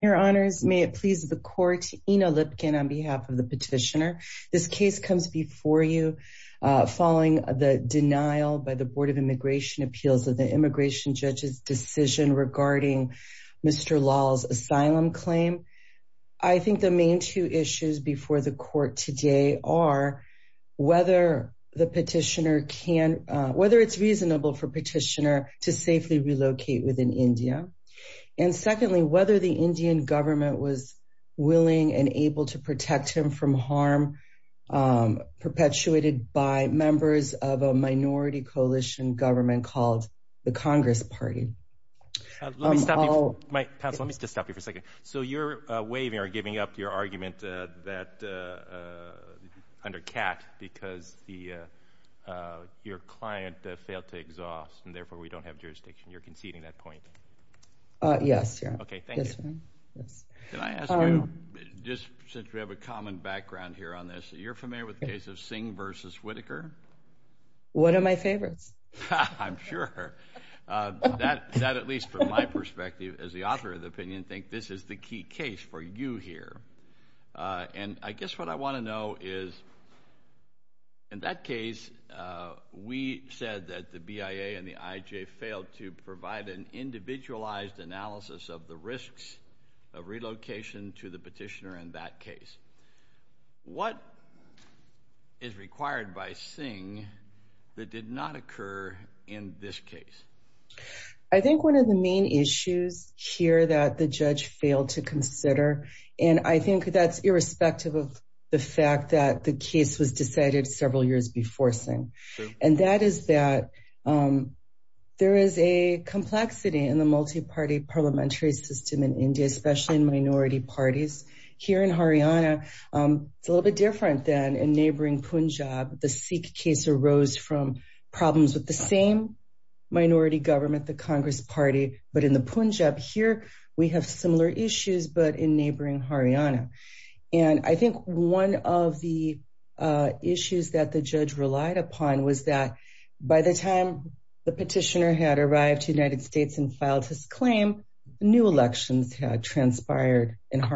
Your Honors, may it please the Court, Ina Lipkin on behalf of the Petitioner, this case comes before you following the denial by the Board of Immigration Appeals of the Immigration Judge's decision regarding Mr. Lal's asylum claim. I think the main two issues before the Court today are whether the Petitioner can, whether it's reasonable for Petitioner to safely relocate within India. And secondly, whether the Indian government was willing and able to protect him from harm perpetuated by members of a minority coalition government called the Congress Party. Let me stop you for a second. So you're waiving or giving up your argument that, under Kat, because your client failed to exhaust and therefore we don't have jurisdiction. You're conceding that point. Yes. Thank you. Yes, ma'am. Yes. Can I ask you, just since we have a common background here on this, you're familiar with the case of Singh v. Whitaker? One of my favorites. I'm sure that, at least from my perspective as the author of the opinion, think this is the key case for you here. And I guess what I want to know is, in that case, we said that the BIA and the IJ failed to provide an individualized analysis of the risks of relocation to the Petitioner in that case. What is required by Singh that did not occur in this case? I think one of the main issues here that the judge failed to consider, and I think that's irrespective of the fact that the case was decided several years before Singh, and that is that there is a complexity in the multi-party parliamentary system in India, especially in minority parties. Here in Haryana, it's a little bit different than in neighboring Punjab. The Sikh case arose from problems with the same minority government, the Congress Party, but in the Punjab here, we have similar issues, but in neighboring Haryana. And I think one of the issues that the judge relied upon was that by the time the Petitioner had arrived to the United States and filed his claim, new elections had But that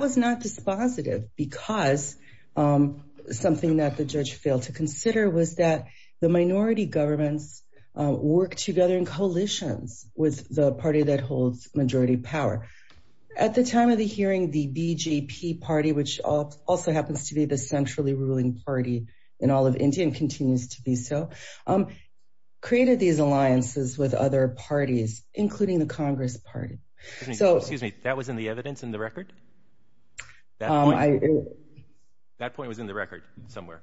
was not dispositive because something that the judge failed to consider was that the minority governments work together in coalitions with the party that holds majority power. At the time of the hearing, the BJP party, which also happens to be the centrally ruling party in all of India and continues to be so, created these alliances with other parties, including the Congress Party. So, excuse me, that was in the evidence in the record? That point was in the record somewhere.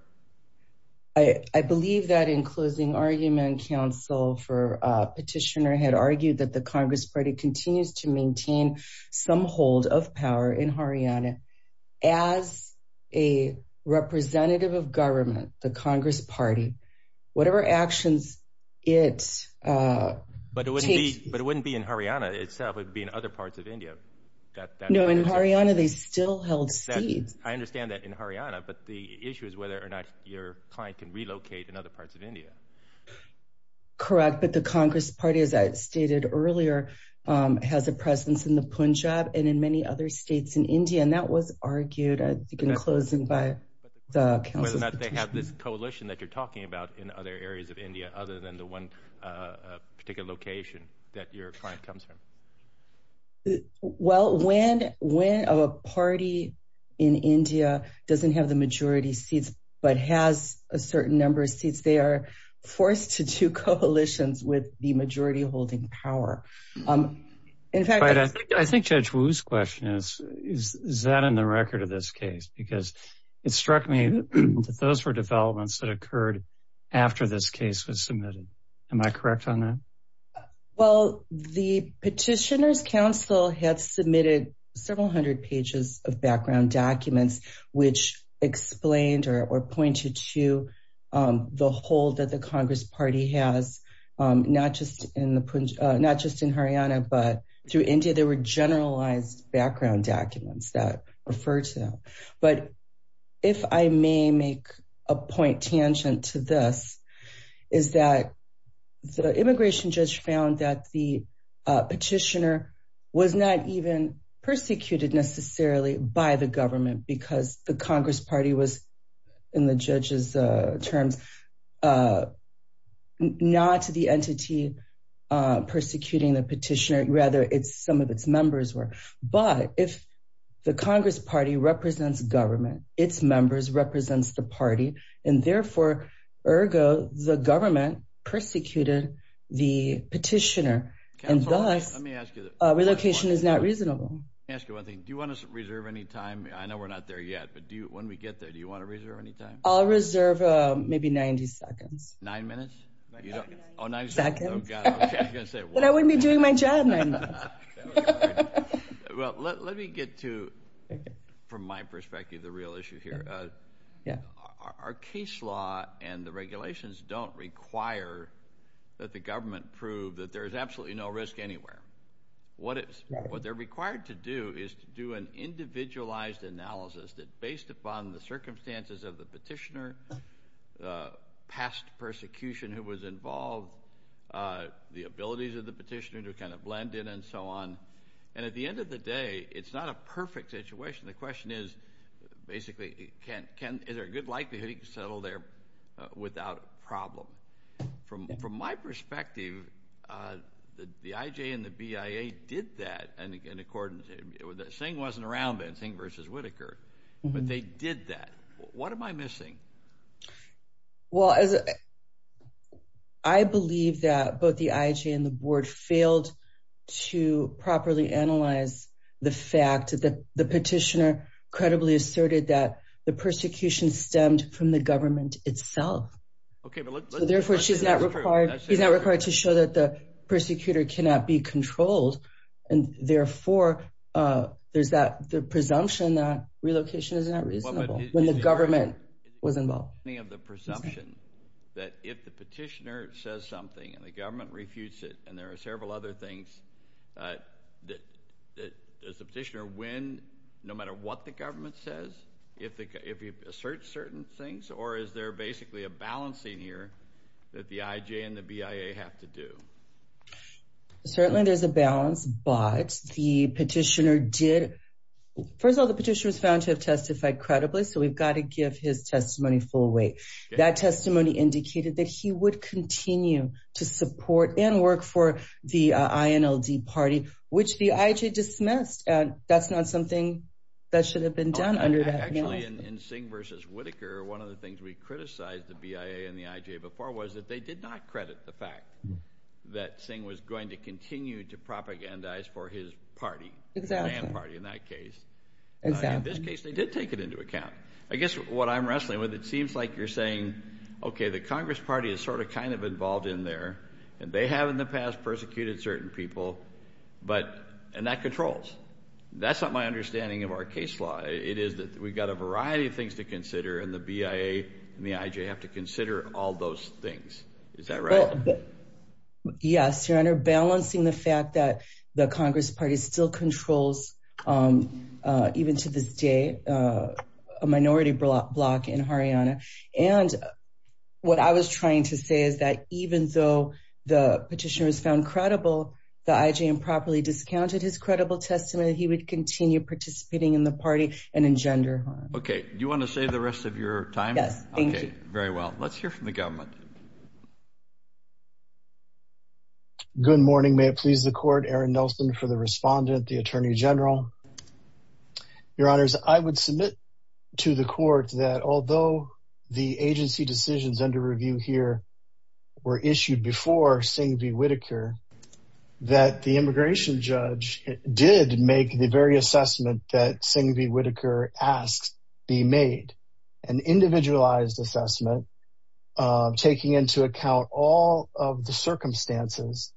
I believe that in closing argument, counsel for Petitioner had argued that the Congress Party continues to maintain some hold of power in Haryana as a representative of government, the Congress Party, whatever actions it takes. But it wouldn't be in Haryana itself, it would be in other parts of India. No, in Haryana, they still held seats. I understand that in Haryana. But the issue is whether or not your client can relocate in other parts of India. Correct. But the Congress Party, as I stated earlier, has a presence in the Punjab and in many other states in India. And that was argued, I think, in closing by the counsel. Whether or not they have this coalition that you're talking about in other areas of that your client comes from. Well, when a party in India doesn't have the majority seats but has a certain number of seats, they are forced to do coalitions with the majority holding power. In fact, I think Judge Wu's question is, is that in the record of this case? Because it struck me that those were developments that occurred after this case was submitted. Am I correct on that? Well, the Petitioner's Council had submitted several hundred pages of background documents which explained or pointed to the hold that the Congress Party has, not just in Haryana, but through India. There were generalized background documents that referred to. But if I may make a point tangent to this, is that the immigration judge found that the petitioner was not even persecuted necessarily by the government because the Congress Party was, in the judge's terms, not the entity persecuting the petitioner. Rather, it's some of its members were. But if the Congress Party represents government, its members represents the party, and therefore, ergo, the government persecuted the petitioner, and thus, relocation is not reasonable. Let me ask you one thing. Do you want to reserve any time? I know we're not there yet, but when we get there, do you want to reserve any time? I'll reserve maybe 90 seconds. Nine minutes? Oh, 90 seconds. Oh, God, OK, I was going to say one minute. But I wouldn't be doing my job nine minutes. Well, let me get to, from my perspective, the real issue here. Our case law and the regulations don't require that the government prove that there's absolutely no risk anywhere. What they're required to do is to do an individualized analysis that, based upon the circumstances of the petitioner, past persecution who was involved, the abilities of the petitioner to kind of blend in and so on. And at the end of the day, it's not a perfect situation. The question is, basically, is there a good likelihood he could settle there without a problem? From my perspective, the IJ and the BIA did that in accordance, Singh wasn't around then, Singh versus Whittaker, but they did that. What am I missing? Well, as I believe that both the IJ and the board failed to properly analyze the fact that the petitioner credibly asserted that the persecution stemmed from the government itself. OK, therefore, she's not required, she's not required to show that the persecutor cannot be controlled. And therefore, there's that presumption that relocation is not reasonable when the petitioner was involved. The presumption that if the petitioner says something and the government refutes it, and there are several other things, does the petitioner win no matter what the government says, if he asserts certain things? Or is there basically a balancing here that the IJ and the BIA have to do? Certainly, there's a balance, but the petitioner did, first of all, the petitioner was found to have testified credibly. So we've got to give his testimony full weight. That testimony indicated that he would continue to support and work for the INLD party, which the IJ dismissed. That's not something that should have been done under that. Actually, in Singh versus Whittaker, one of the things we criticized the BIA and the IJ before was that they did not credit the fact that Singh was going to continue to propagandize for his party, his fan party in that case. In this case, they did take it into account. I guess what I'm wrestling with, it seems like you're saying, okay, the Congress party is sort of kind of involved in there, and they have in the past persecuted certain people, and that controls. That's not my understanding of our case law. It is that we've got a variety of things to consider, and the BIA and the IJ have to consider all those things. Is that right? Yes, Your Honor, balancing the fact that the Congress party still controls, even to this day, a minority bloc in Haryana. And what I was trying to say is that even though the petitioner was found credible, the IJ improperly discounted his credible testimony, he would continue participating in the party and engender harm. Okay. Do you want to save the rest of your time? Yes, thank you. Very well. Let's hear from the government. Good morning. May it please the court, Aaron Nelson for the respondent, the Attorney General. Your Honors, I would submit to the court that although the agency decisions under review here were issued before Singh v. Whitaker, that the immigration judge did make the very assessment that Singh v. Whitaker asked be made, an individualized assessment, taking into account all the of the circumstances,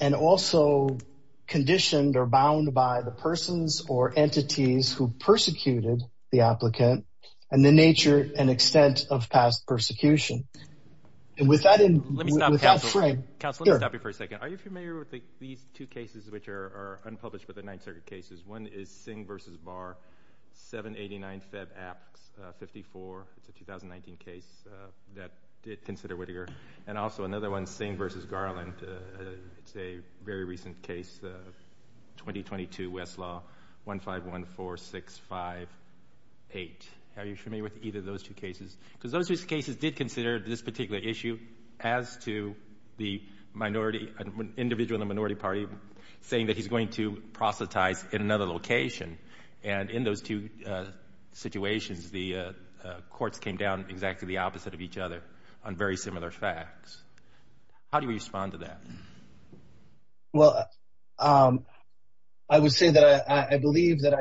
and also conditioned or bound by the persons or entities who persecuted the applicant and the nature and extent of past persecution. And with that in mind... Let me stop you for a second. Are you familiar with these two cases which are unpublished with the Ninth Circuit cases? One is Singh v. Barr, 789, Feb. Apt. 54. It's a 2019 case that did consider Whitaker. And also another one, Singh v. Garland. It's a very recent case, 2022 Westlaw, 1514658. Are you familiar with either of those two cases? Because those two cases did consider this particular issue as to the minority, an individual in the minority party, saying that he's going to proselytize in another location. And in those two situations, the courts came down exactly the opposite of each other on very similar facts. How do you respond to that? Well, I would say that I believe that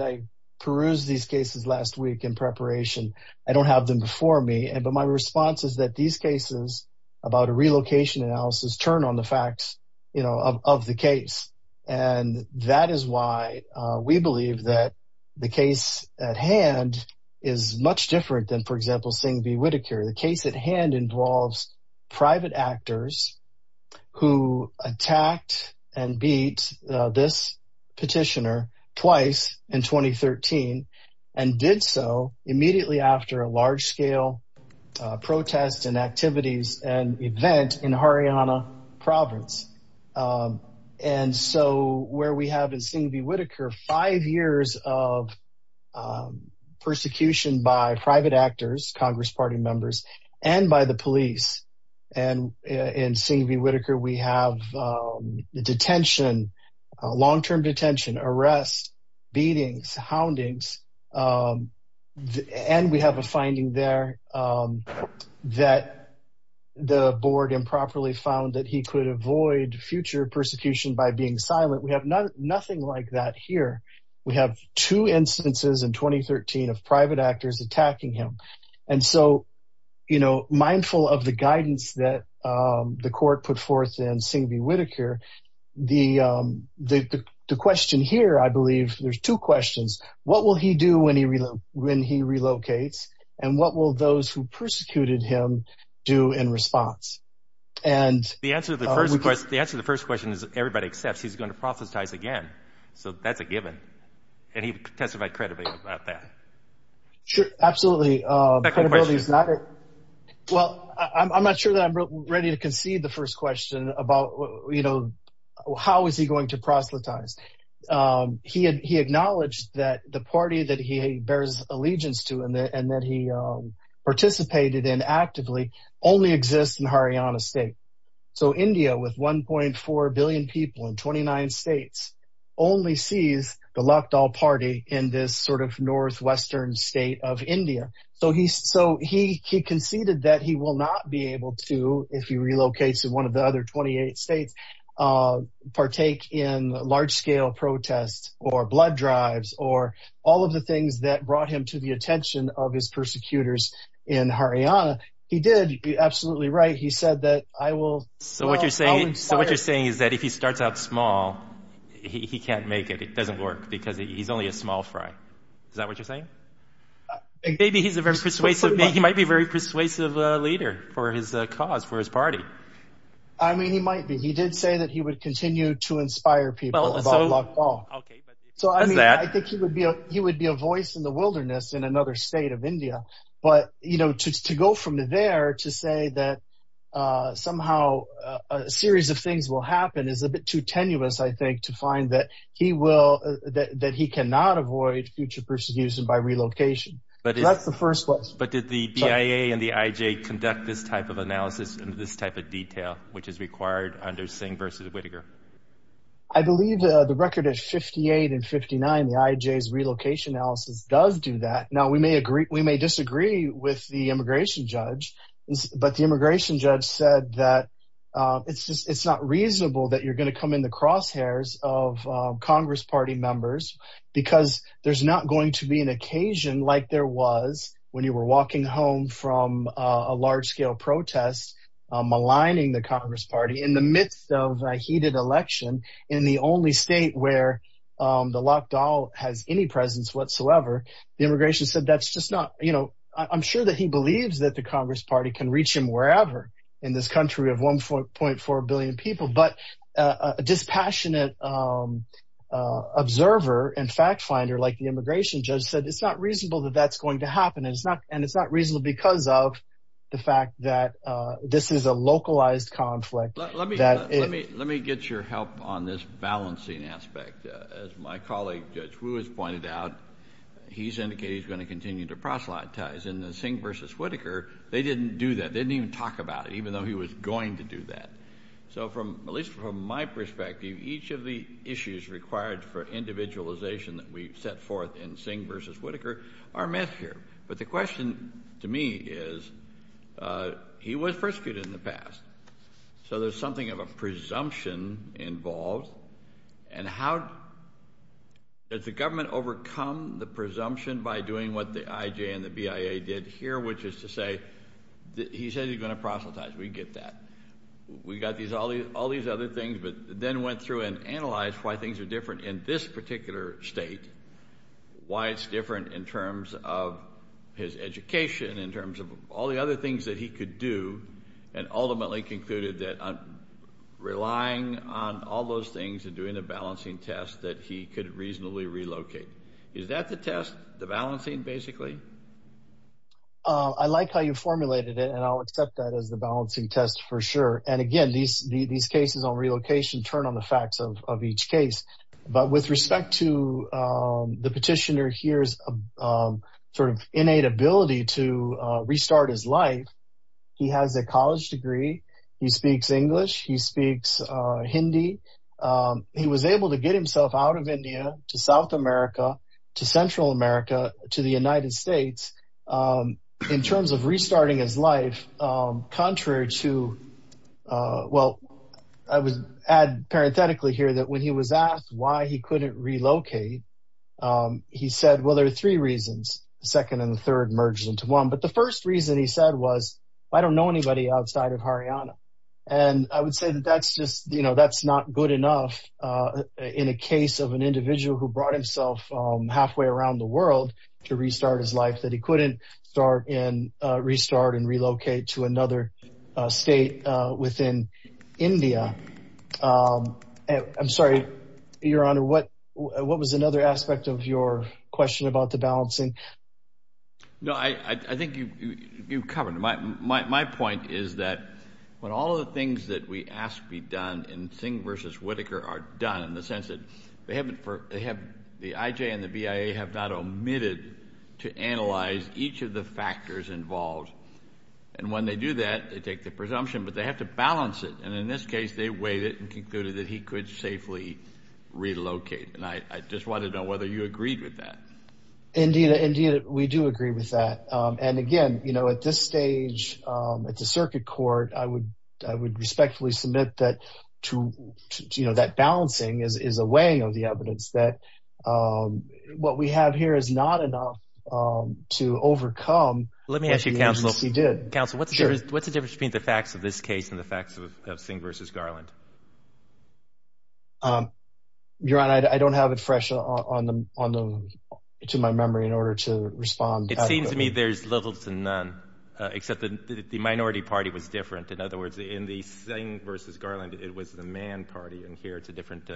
I perused these cases last week in preparation. I don't have them before me, but my response is that these cases about a relocation analysis turn on the facts of the case. And that is why we believe that the case at hand is much different than, for example, Singh v. Whitaker. The case at hand involves private actors who attacked and beat this petitioner twice in 2013 and did so immediately after a large scale protest and activities and event in Haryana province. And so where we have in Singh v. Whitaker, we have the detention, long term detention, arrest, beatings, houndings, and we have a finding there that the board improperly found that he could avoid future persecution by being silent. We have nothing like that here. We have two instances in 2013 of private actors attacking him. And so, you know, mindful of the guidance that the court put forth in Singh v. Whitaker, the question here, I believe, there's two questions. What will he do when he relocates? And what will those who persecuted him do in response? And the answer to the first question is everybody accepts he's going to prophesize again. So that's a given. And he testified credibly about that. Sure, absolutely. Well, I'm not sure that I'm ready to concede the first question about, you know, how is he going to proselytize? He acknowledged that the party that he bears allegiance to and that he participated in actively only exists in Haryana state. So India, with one point four billion people in twenty nine states, only sees the northwestern state of India. So he's so he conceded that he will not be able to, if he relocates to one of the other twenty eight states, partake in large scale protests or blood drives or all of the things that brought him to the attention of his persecutors in Haryana. He did be absolutely right. He said that I will. So what you're saying is that if he starts out small, he can't make it. It doesn't work because he's only a small fry. Is that what you're saying? Maybe he's a very persuasive. He might be very persuasive leader for his cause, for his party. I mean, he might be. He did say that he would continue to inspire people. So I think he would be he would be a voice in the wilderness in another state of India. But, you know, to go from there to say that somehow a series of things will happen is a he will that he cannot avoid future persecution by relocation. But that's the first place. But did the PIA and the IJ conduct this type of analysis and this type of detail, which is required under Singh versus Whittaker? I believe the record is fifty eight and fifty nine. The IJ's relocation analysis does do that. Now, we may agree. We may disagree with the immigration judge, but the immigration judge said that it's just it's not reasonable that you're going to come in the crosshairs of Congress party members because there's not going to be an occasion like there was when you were walking home from a large scale protest maligning the Congress party in the midst of a heated election in the only state where the lockdown has any presence whatsoever. The immigration said that's just not you know, I'm sure that he believes that the Congress party can reach him wherever in this country of one point four billion people. But a dispassionate observer and fact finder like the immigration judge said it's not reasonable that that's going to happen. And it's not and it's not reasonable because of the fact that this is a localized conflict. Let me let me let me get your help on this balancing aspect. As my colleague, Judge Lewis, pointed out, he's indicated he's going to continue to proselytize in the Singh versus Whittaker. They didn't do that. They didn't even talk about it, even though he was going to do that. So from at least from my perspective, each of the issues required for individualization that we set forth in Singh versus Whittaker are met here. But the question to me is he was persecuted in the past. So there's something of a presumption involved. And how does the government overcome the presumption by doing what the IJ and the BIA did here, which is to say that he said he's going to proselytize? We get that. We got these all these all these other things, but then went through and analyzed why things are different in this particular state, why it's different in terms of his education, in terms of all the other things that he could do, and ultimately concluded that relying on all those things and doing a balancing test that he could reasonably relocate. Is that the test, the balancing basically? I like how you formulated it, and I'll accept that as the balancing test for sure. And again, these these cases on relocation turn on the facts of each case. But with respect to the petitioner, here's a sort of innate ability to restart his life. He has a college degree. He speaks English. He speaks Hindi. He was able to get himself out of India to South America, to Central America, to the in terms of restarting his life, contrary to well, I would add parenthetically here that when he was asked why he couldn't relocate, he said, well, there are three reasons. The second and the third merged into one. But the first reason he said was, I don't know anybody outside of Haryana. And I would say that that's just you know, that's not good enough in a case of an individual who brought himself halfway around the world to restart his life that he start and restart and relocate to another state within India. I'm sorry, your honor, what what was another aspect of your question about the balancing? No, I think you covered my point is that when all of the things that we ask be done in Singh versus Whitaker are done in the sense that they haven't for they factors involved. And when they do that, they take the presumption, but they have to balance it. And in this case, they weighed it and concluded that he could safely relocate. And I just want to know whether you agreed with that. Indeed, indeed, we do agree with that. And again, you know, at this stage at the circuit court, I would I would respectfully submit that to you know, that balancing is a weighing of the evidence that what we have here is not enough to overcome. Let me ask you, counsel, counsel, what's the difference between the facts of this case and the facts of Singh versus Garland? Your honor, I don't have it fresh on the on the to my memory in order to respond. It seems to me there's little to none, except that the minority party was different. In other words, in the Singh versus Garland, it was the man party. And here it's a different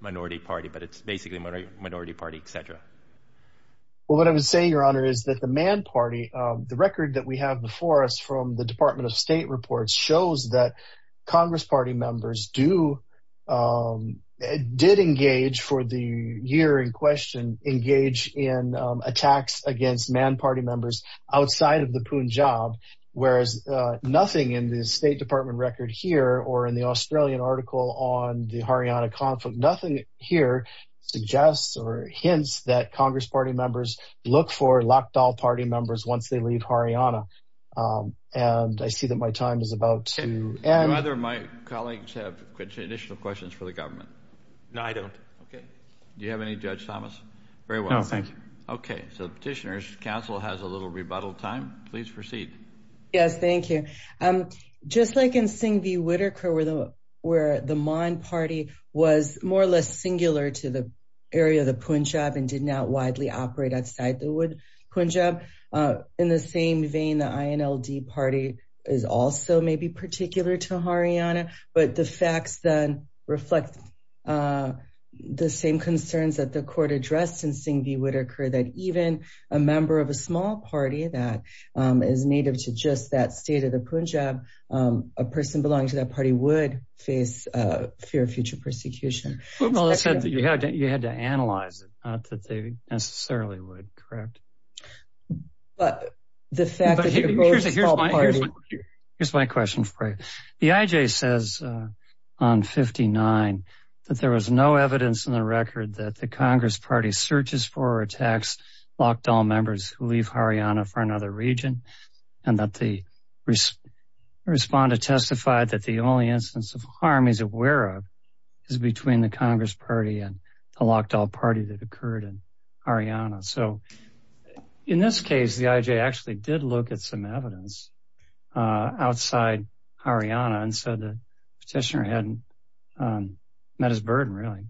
minority party, but it's basically a minority party, etc. Well, what I would say, your honor, is that the man party, the record that we have before us from the Department of State reports shows that Congress party members do did engage for the year in question, engage in attacks against man party members outside of the Punjab, whereas nothing in the State Department record here or in the Australian article on the Haryana conflict. Nothing here suggests or hints that Congress party members look for Lakhdar party members once they leave Haryana. And I see that my time is about to end. Do either of my colleagues have additional questions for the government? No, I don't. Okay. Do you have any, Judge Thomas? Very well. No, thank you. Okay. So petitioners, counsel has a little rebuttal time. Please proceed. Yes, thank you. Just like in Singh v. Whitaker, where the man party was more or less singular to the area of the Punjab and did not widely operate outside the Punjab, in the same vein, the INLD party is also maybe particular to Haryana, but the facts then reflect the same concerns that the court addressed in Singh v. Punjab, a person belonging to that party would face a fear of future persecution. Well, it said that you had to analyze it, not that they necessarily would, correct? But the fact that they're both small parties... Here's my question for you. The IJ says on 59 that there was no evidence in the record that the Congress party searches for or attacks Lakhdar members who leave Haryana for another region, and that the respondent testified that the only instance of harm he's aware of is between the Congress party and the Lakhdar party that occurred in Haryana. So in this case, the IJ actually did look at some evidence outside Haryana. And so the petitioner hadn't met his burden, really.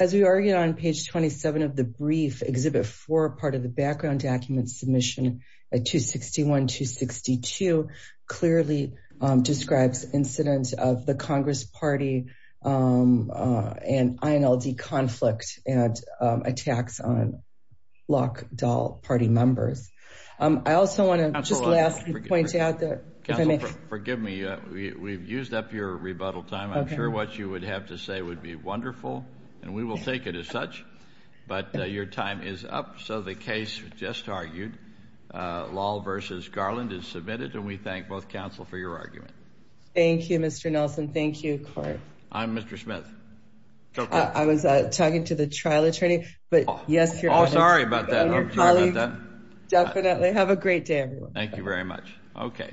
As we argued on page 27 of the brief, Exhibit 4, part of the background document submission at 261-262 clearly describes incidents of the Congress party and INLD conflict and attacks on Lakhdar party members. I also want to just last point out that... Counsel, forgive me. We've used up your rebuttal time. I'm sure what you would have to say would be wonderful, and we will take it as such. But your time is up. So the case just argued, Lahl versus Garland, is submitted. And we thank both counsel for your argument. Thank you, Mr. Nelson. Thank you, Court. I'm Mr. Smith. I was talking to the trial attorney. But yes, you're... Oh, sorry about that. Definitely. Have a great day, everyone. Thank you very much. Okay.